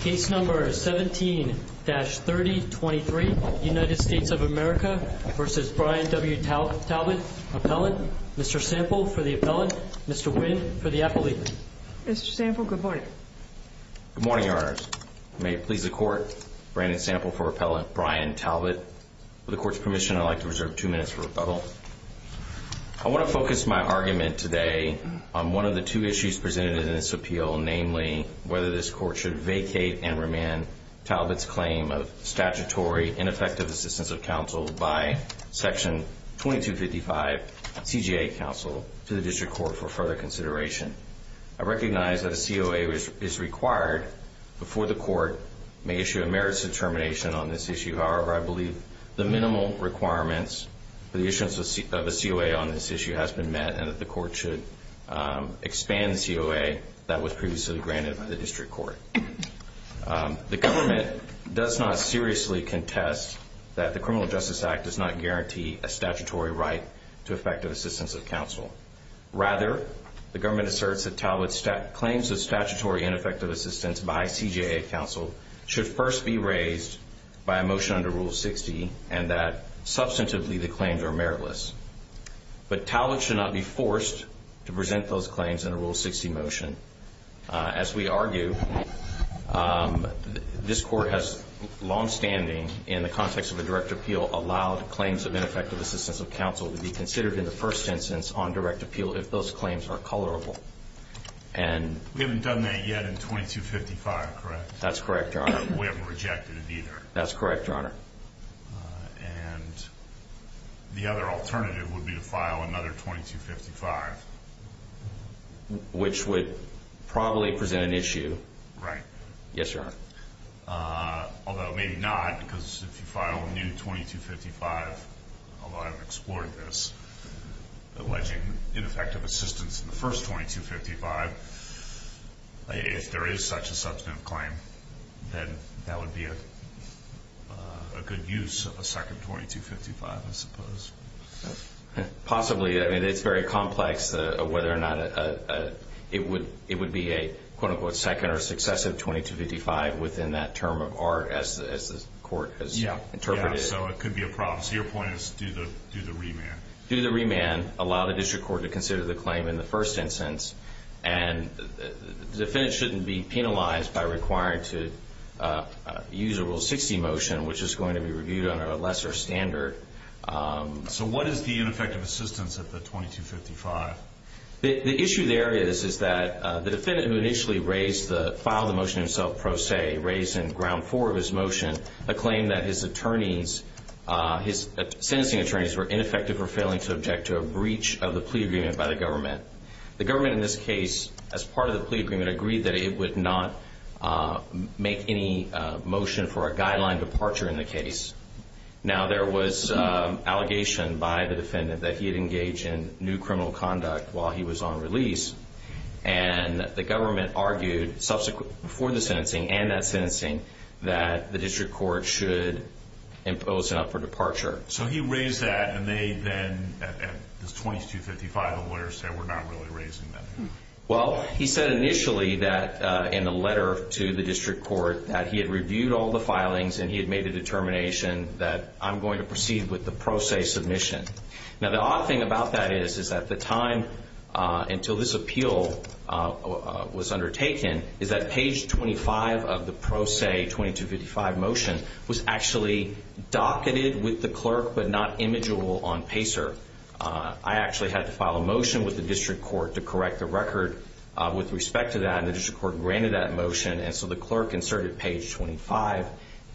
Case number 17-3023, United States of America v. Bryan W. Talbott, Appellant. Mr. Sample for the Appellant, Mr. Wynn for the Appellant. Mr. Sample, good morning. Good morning, Your Honors. May it please the Court, Brandon Sample for Appellant, Bryan Talbott. With the Court's permission, I'd like to reserve two minutes for rebuttal. I want to focus my argument today on one of the two issues presented in this appeal, namely whether this Court should vacate and remand Talbott's claim of statutory ineffective assistance of counsel by Section 2255 CJA counsel to the District Court for further consideration. I recognize that a COA is required before the Court may issue a merits determination on this issue. However, I believe the minimal requirements for the issuance of a COA on this issue has been met and that the Court should expand the COA that was previously granted by the District Court. The government does not seriously contest that the Criminal Justice Act does not guarantee a statutory right to effective assistance of counsel. Rather, the government asserts that Talbott's claims of statutory ineffective assistance by CJA counsel should first be raised by a motion under Rule 60 and that, substantively, the claims are meritless. But Talbott should not be forced to present those claims in a Rule 60 motion. As we argue, this Court has longstanding, in the context of a direct appeal, allowed claims of ineffective assistance of counsel to be considered in the first instance on direct appeal if those claims are colorable. We haven't done that yet in 2255, correct? That's correct, Your Honor. We haven't rejected it either. That's correct, Your Honor. And the other alternative would be to file another 2255. Which would probably present an issue. Right. Yes, Your Honor. Although maybe not, because if you file a new 2255, although I haven't explored this, alleging ineffective assistance in the first 2255, if there is such a substantive claim, then that would be a good use of a second 2255, I suppose. Possibly. I mean, it's very complex whether or not it would be a, quote-unquote, second or successive 2255 within that term of art, as the Court has interpreted it. Yes, so it could be a problem. So your point is do the remand. Do the remand. Allow the district court to consider the claim in the first instance. And the defendant shouldn't be penalized by requiring to use a Rule 60 motion, which is going to be reviewed under a lesser standard. So what is the ineffective assistance at the 2255? The issue there is that the defendant who initially filed the motion himself pro se, raised in ground four of his motion a claim that his sentencing attorneys were ineffective or failing to object to a breach of the plea agreement by the government. The government in this case, as part of the plea agreement, agreed that it would not make any motion for a guideline departure in the case. Now, there was allegation by the defendant that he had engaged in new criminal conduct while he was on release. And the government argued, before the sentencing and that sentencing, that the district court should impose an upper departure. So he raised that, and they then, at this 2255, the lawyers said, we're not really raising that. Well, he said initially that in the letter to the district court that he had reviewed all the filings and he had made a determination that I'm going to proceed with the pro se submission. Now, the odd thing about that is that the time until this appeal was undertaken is that page 25 of the pro se 2255 motion was actually docketed with the clerk but not imageable on PACER. I actually had to file a motion with the district court to correct the record with respect to that, and the district court granted that motion. And so the clerk inserted page 25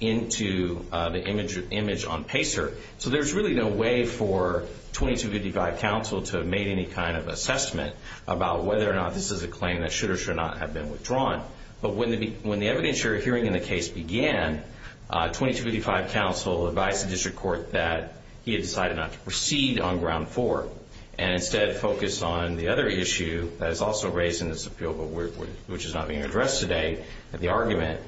into the image on PACER. So there's really no way for 2255 counsel to have made any kind of assessment about whether or not this is a claim that should or should not have been withdrawn. But when the evidence hearing in the case began, 2255 counsel advised the district court that he had decided not to proceed on ground four and instead focused on the other issue that is also raised in this appeal which is not being addressed today, the argument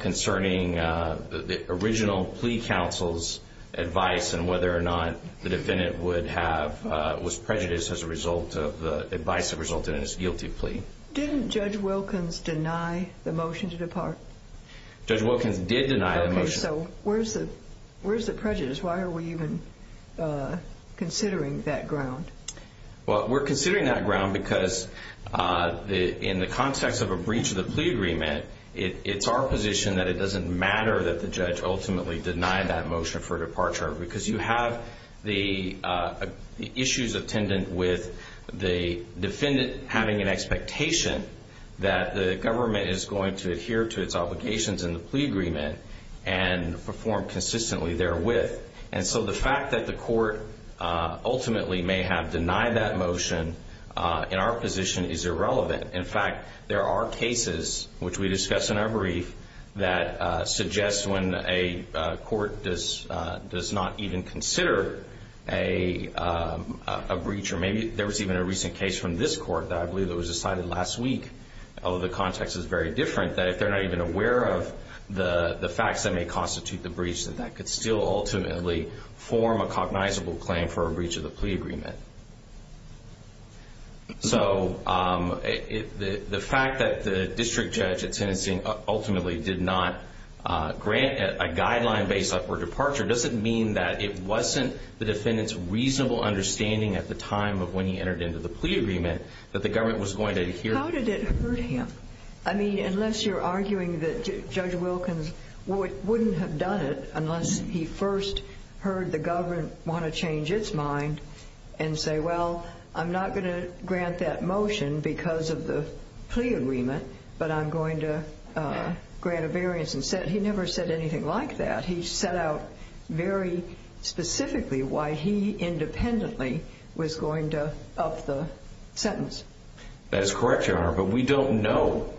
concerning the original plea counsel's advice and whether or not the defendant was prejudiced as a result of the advice that resulted in his guilty plea. Didn't Judge Wilkins deny the motion to depart? Judge Wilkins did deny the motion. Okay, so where's the prejudice? Why are we even considering that ground? Well, we're considering that ground because in the context of a breach of the plea agreement, it's our position that it doesn't matter that the judge ultimately denied that motion for departure because you have the issues attendant with the defendant having an expectation that the government is going to adhere to its obligations in the plea agreement and perform consistently therewith. And so the fact that the court ultimately may have denied that motion in our position is irrelevant. In fact, there are cases, which we discuss in our brief, that suggest when a court does not even consider a breach or maybe there was even a recent case from this court that I believe that was decided last week, although the context is very different, that if they're not even aware of the facts that may constitute the breach, that that could still ultimately form a cognizable claim for a breach of the plea agreement. So the fact that the district judge at Tennessee ultimately did not grant a guideline based on her departure doesn't mean that it wasn't the defendant's reasonable understanding at the time of when he entered into the plea agreement that the government was going to adhere. How did it hurt him? I mean, unless you're arguing that Judge Wilkins wouldn't have done it unless he first heard the government want to change its mind and say, well, I'm not going to grant that motion because of the plea agreement, but I'm going to grant a variance. He never said anything like that. He set out very specifically why he independently was going to up the sentence. That is correct, Your Honor, but we don't know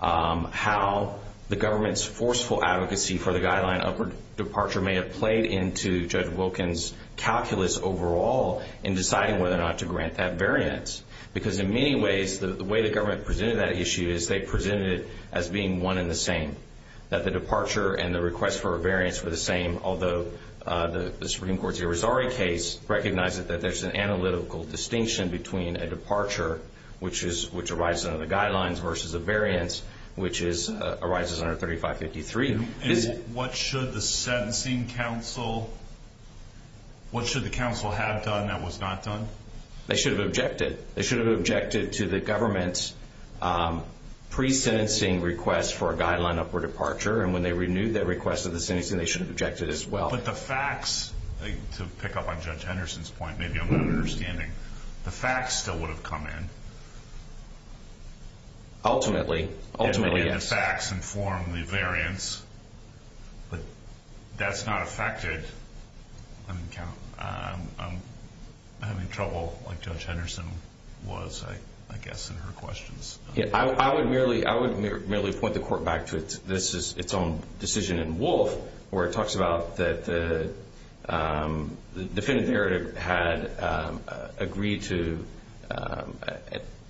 how the government's forceful advocacy for the guideline upward departure may have played into Judge Wilkins' calculus overall in deciding whether or not to grant that variance because in many ways the way the government presented that issue is they presented it as being one and the same, that the departure and the request for a variance were the same, although the Supreme Court's Irizarry case recognized that there's an analytical distinction between a departure, which arises under the guidelines, versus a variance, which arises under 3553. And what should the sentencing counsel have done that was not done? They should have objected. They should have objected to the government's pre-sentencing request for a guideline upward departure, and when they renewed their request for the sentencing, they should have objected as well. But the facts, to pick up on Judge Henderson's point, maybe I'm not understanding, the facts still would have come in. Ultimately. Ultimately, yes. The facts inform the variance, but that's not affected. I'm having trouble, like Judge Henderson was, I guess, in her questions. I would merely point the Court back to its own decision in Wolfe, where it talks about the definitive narrative had agreed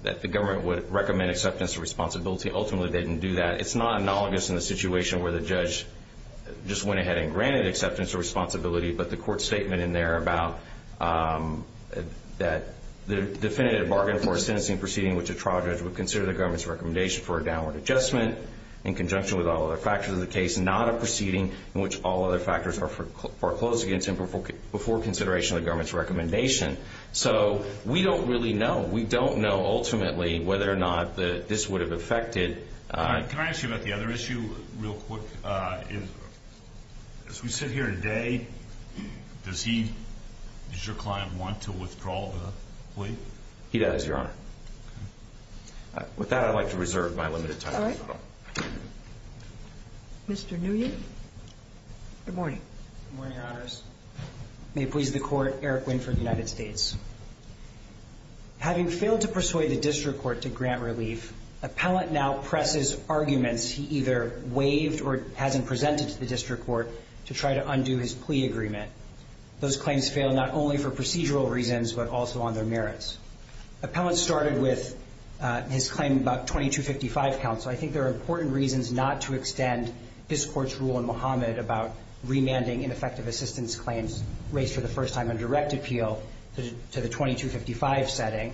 that the government would recommend acceptance of responsibility. Ultimately, they didn't do that. It's not analogous in the situation where the judge just went ahead and granted acceptance of responsibility, but the Court's statement in there about the definitive bargain for a sentencing proceeding in which a trial judge would consider the government's recommendation for a downward adjustment, in conjunction with all other factors of the case, not a proceeding in which all other factors are foreclosed against him before consideration of the government's recommendation. So we don't really know. We don't know, ultimately, whether or not this would have affected. Can I ask you about the other issue real quick? As we sit here today, does your client want to withdraw the plea? He does, Your Honor. With that, I'd like to reserve my limited time. All right. Mr. Nguyen? Good morning. Good morning, Your Honors. May it please the Court, Eric Winford, United States. Having failed to persuade the district court to grant relief, appellant now presses arguments he either waived or hasn't presented to the district court to try to undo his plea agreement. Those claims fail not only for procedural reasons but also on their merits. Appellant started with his claim about 2255 counsel. I think there are important reasons not to extend this Court's rule in Muhammad about remanding ineffective assistance claims raised for the first time under direct appeal to the 2255 setting.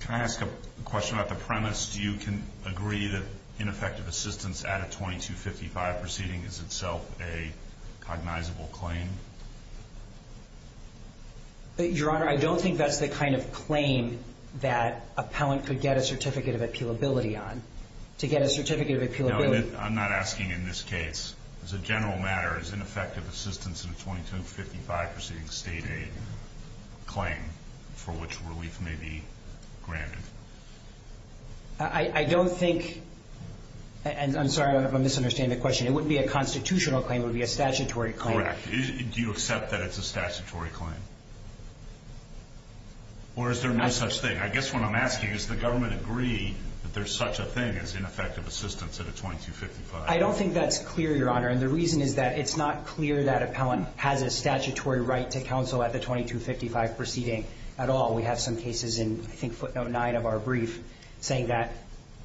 Can I ask a question about the premise? Do you agree that ineffective assistance at a 2255 proceeding is itself a cognizable claim? Your Honor, I don't think that's the kind of claim that appellant could get a certificate of appealability on. To get a certificate of appealability. I'm not asking in this case. As a general matter, is ineffective assistance in a 2255 proceeding state aid claim for which relief may be granted? I don't think, and I'm sorry if I'm misunderstanding the question. It wouldn't be a constitutional claim. It would be a statutory claim. Correct. Do you accept that it's a statutory claim? Or is there no such thing? I guess what I'm asking is the government agree that there's such a thing as ineffective assistance at a 2255? I don't think that's clear, Your Honor. And the reason is that it's not clear that appellant has a statutory right to counsel at the 2255 proceeding at all. We have some cases in, I think, footnote 9 of our brief saying that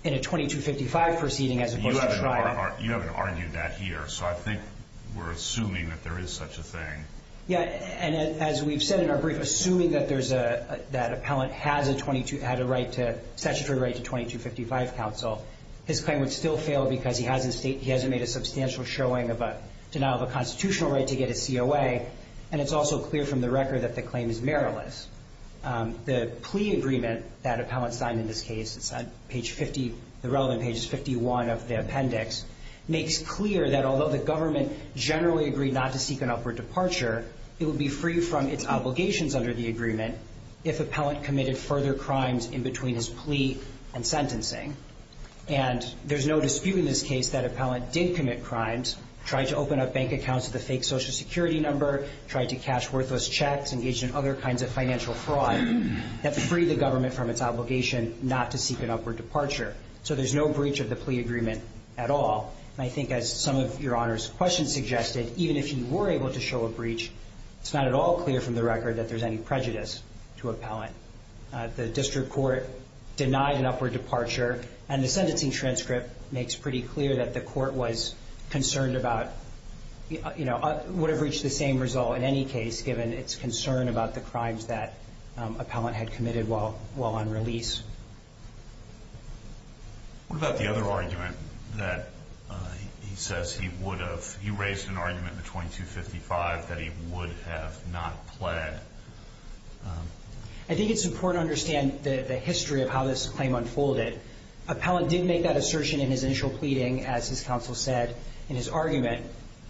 in a 2255 proceeding as opposed to trial. You haven't argued that here. So I think we're assuming that there is such a thing. Yeah, and as we've said in our brief, assuming that there's a, that appellant has a 22, had a right to, statutory right to 2255 counsel, his claim would still fail because he hasn't made a substantial showing of a denial of a constitutional right to get a COA, and it's also clear from the record that the claim is meriless. The plea agreement that appellant signed in this case, it's on page 50, the relevant page is 51 of the appendix, makes clear that although the government generally agreed not to seek an upward departure, it would be free from its obligations under the agreement if appellant committed further crimes in between his plea and sentencing. And there's no dispute in this case that appellant did commit crimes, tried to open up bank accounts with a fake Social Security number, tried to cash worthless checks, engaged in other kinds of financial fraud that freed the government from its obligation not to seek an upward departure. So there's no breach of the plea agreement at all. And I think as some of Your Honor's questions suggested, even if you were able to show a breach, it's not at all clear from the record that there's any prejudice to appellant. The district court denied an upward departure, and the sentencing transcript makes pretty clear that the court was concerned about, you know, would have reached the same result in any case given its concern about the crimes that appellant had committed while, while on release. What about the other argument that he says he would have? You raised an argument in the 2255 that he would have not pled. I think it's important to understand the history of how this claim unfolded. Appellant did make that assertion in his initial pleading, as his counsel said in his argument.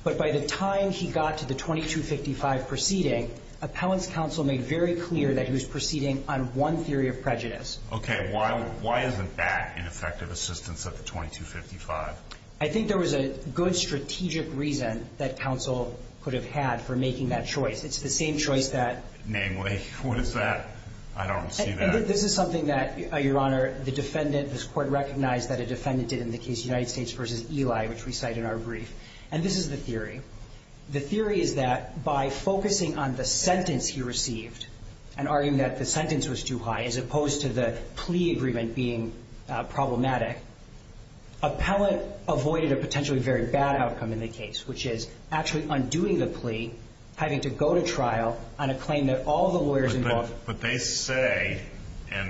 But by the time he got to the 2255 proceeding, appellant's counsel made very clear that he was proceeding on one theory of prejudice. Okay. Why, why isn't that an effective assistance of the 2255? I think there was a good strategic reason that counsel could have had for making that choice. It's the same choice that. Namely, what is that? I don't see that. This is something that, Your Honor, the defendant, this court recognized that a defendant did in the case United States versus Eli, which we cite in our brief. And this is the theory. The theory is that by focusing on the sentence he received and arguing that the sentence was too high, as opposed to the plea agreement being problematic, appellant avoided a potentially very bad outcome in the case, which is actually undoing the plea, having to go to trial on a claim that all the lawyers involved. But they say that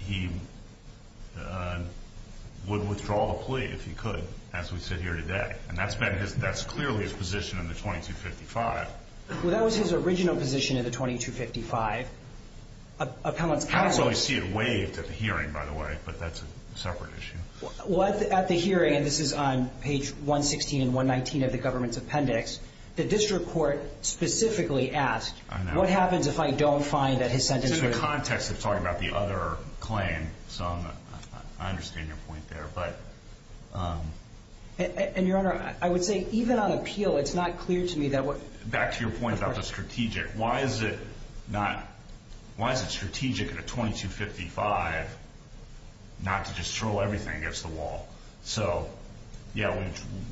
he would withdraw the plea if he could, as we sit here today. And that's been his, that's clearly his position in the 2255. Well, that was his original position in the 2255. Appellant's counsel. I don't see it waived at the hearing, by the way, but that's a separate issue. Well, at the hearing, and this is on page 116 and 119 of the government's appendix, the district court specifically asked, what happens if I don't find that his sentence was. This is in the context of talking about the other claim, so I understand your point there. And, Your Honor, I would say even on appeal, it's not clear to me that what. Back to your point about the strategic. Why is it not, why is it strategic in a 2255 not to just throw everything against the wall? So, yeah,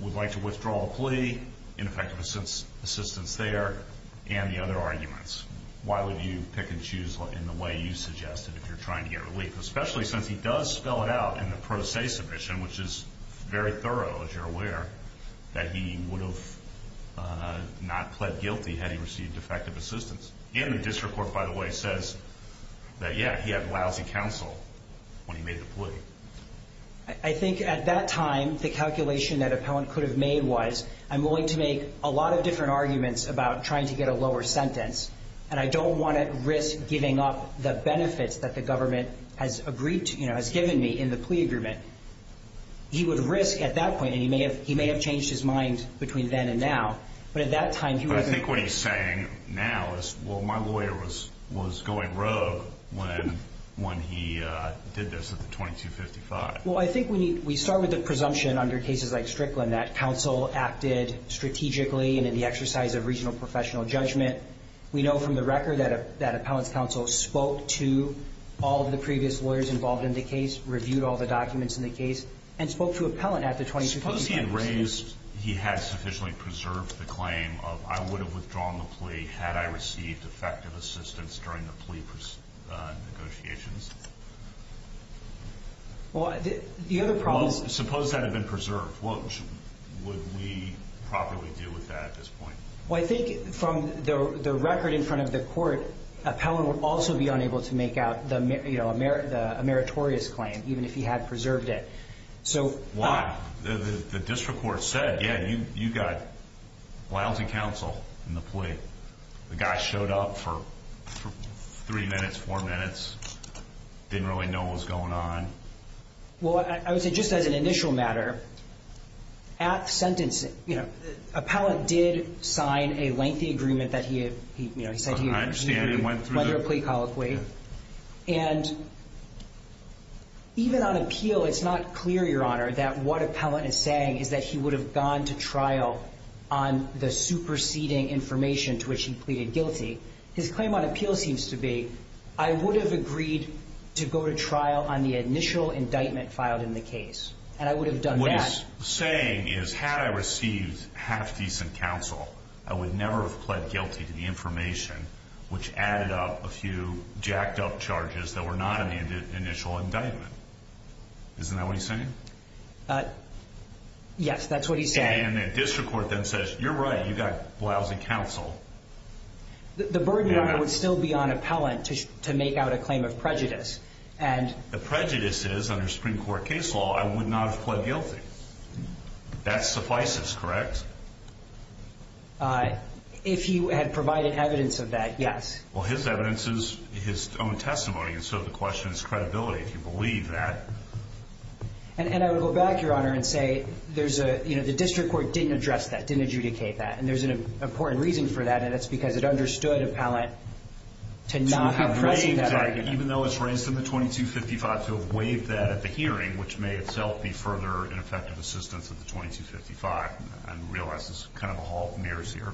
we would like to withdraw the plea, ineffective assistance there, and the other arguments. Why would you pick and choose in the way you suggested if you're trying to get relief? Especially since he does spell it out in the pro se submission, which is very thorough, as you're aware, that he would have not pled guilty had he received effective assistance. And the district court, by the way, says that, yeah, he had lousy counsel when he made the plea. I think at that time, the calculation that appellant could have made was, I'm willing to make a lot of different arguments about trying to get a lower sentence, and I don't want to risk giving up the benefits that the government has agreed to, you know, has given me in the plea agreement. He would risk at that point, and he may have changed his mind between then and now, but at that time. But I think what he's saying now is, well, my lawyer was going rogue when he did this at the 2255. Well, I think we start with the presumption under cases like Strickland that counsel acted strategically and in the exercise of regional professional judgment. We know from the record that appellant's counsel spoke to all of the previous lawyers involved in the case, reviewed all the documents in the case, and spoke to appellant at the 2255. Suppose he had raised, he had sufficiently preserved the claim of, I would have withdrawn the plea had I received effective assistance during the plea negotiations. Well, the other problem is. Well, suppose that had been preserved. What would we properly do with that at this point? Well, I think from the record in front of the court, appellant would also be unable to make out, you know, a meritorious claim, even if he had preserved it. Why? The district court said, yeah, you got lousy counsel in the plea. The guy showed up for three minutes, four minutes, didn't really know what was going on. Well, I would say just as an initial matter, at sentencing, you know, appellant did sign a lengthy agreement that he, you know, he said he would review whether a plea colloquy. And even on appeal, it's not clear, Your Honor, that what appellant is saying is that he would have gone to trial on the superseding information to which he pleaded guilty. His claim on appeal seems to be, I would have agreed to go to trial on the initial indictment filed in the case, and I would have done that. What he's saying is, had I received half-decent counsel, I would never have pled guilty to the information which added up a few jacked-up charges that were not in the initial indictment. Isn't that what he's saying? Yes, that's what he's saying. And the district court then says, you're right, you've got lousy counsel. The burden, Your Honor, would still be on appellant to make out a claim of prejudice. The prejudice is, under Supreme Court case law, I would not have pled guilty. That suffices, correct? If he had provided evidence of that, yes. Well, his evidence is his own testimony, and so the question is credibility, if you believe that. And I would go back, Your Honor, and say the district court didn't address that, didn't adjudicate that, and there's an important reason for that, and that's because it understood appellant to not have pressed that argument. Even though it's raised in the 2255 to have waived that at the hearing, which may itself be further ineffective assistance of the 2255, I realize this is kind of a hall of mirrors here.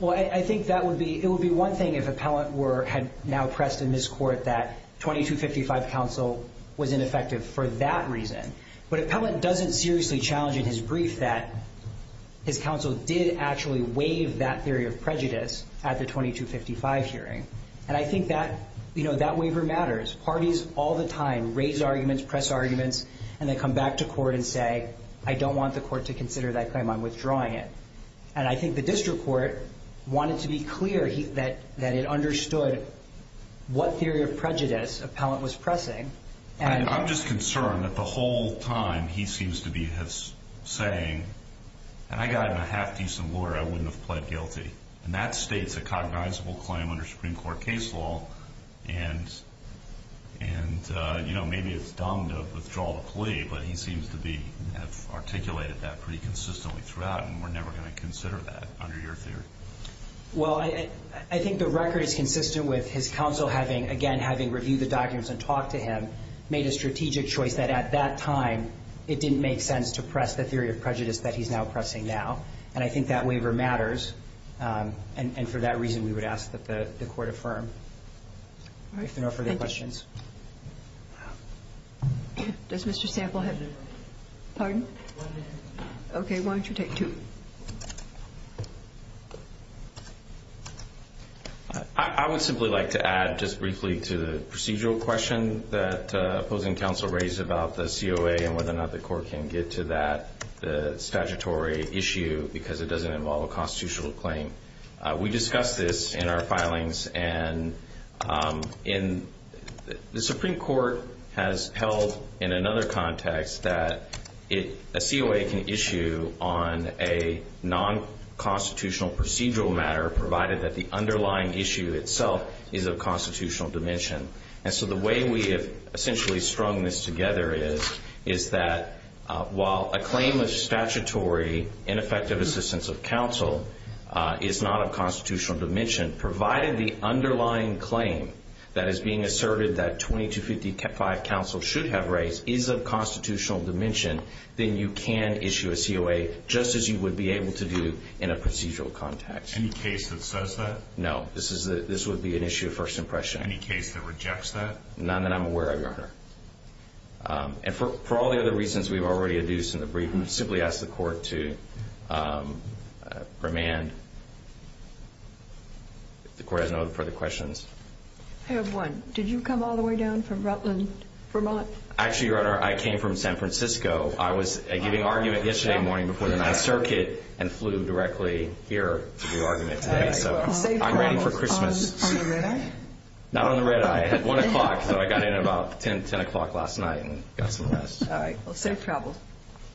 Well, I think it would be one thing if appellant had now pressed in this court that 2255 counsel was ineffective for that reason. But appellant doesn't seriously challenge in his brief that his counsel did actually waive that theory of prejudice at the 2255 hearing. And I think that waiver matters. Parties all the time raise arguments, press arguments, and they come back to court and say, I don't want the court to consider that claim, I'm withdrawing it. And I think the district court wanted to be clear that it understood what theory of prejudice appellant was pressing. I'm just concerned that the whole time he seems to be saying, and I got him a half-decent lawyer, I wouldn't have pled guilty. And that states a cognizable claim under Supreme Court case law. And maybe it's dumb to withdraw the plea, but he seems to have articulated that pretty consistently throughout, and we're never going to consider that under your theory. Well, I think the record is consistent with his counsel having, again, having reviewed the documents and talked to him, made a strategic choice that at that time it didn't make sense to press the theory of prejudice that he's now pressing now. And I think that waiver matters. And for that reason, we would ask that the court affirm. All right. If there are no further questions. Thank you. Does Mr. Sample have any? Pardon? One minute. Okay. Why don't you take two? I would simply like to add just briefly to the procedural question that opposing counsel raised about the COA and whether or not the court can get to that statutory issue because it doesn't involve a constitutional claim. We discussed this in our filings. And the Supreme Court has held in another context that a COA can issue on a non-constitutional procedural matter, provided that the underlying issue itself is of constitutional dimension. And so the way we have essentially strung this together is that while a claim of statutory ineffective assistance of counsel is not of constitutional dimension, provided the underlying claim that is being asserted that 2255 counsel should have raised is of constitutional dimension, then you can issue a COA just as you would be able to do in a procedural context. Any case that says that? No. This would be an issue of first impression. Any case that rejects that? None that I'm aware of, Your Honor. And for all the other reasons we've already adduced in the briefing, simply ask the court to remand. If the court has no further questions. I have one. Did you come all the way down from Rutland, Vermont? Actually, Your Honor, I came from San Francisco. I was giving argument yesterday morning before the Ninth Circuit and flew directly here to give argument. I'm ready for Christmas. On the red-eye? Not on the red-eye. I had 1 o'clock, so I got in at about 10 o'clock last night and got some rest. All right. Well, safe travel.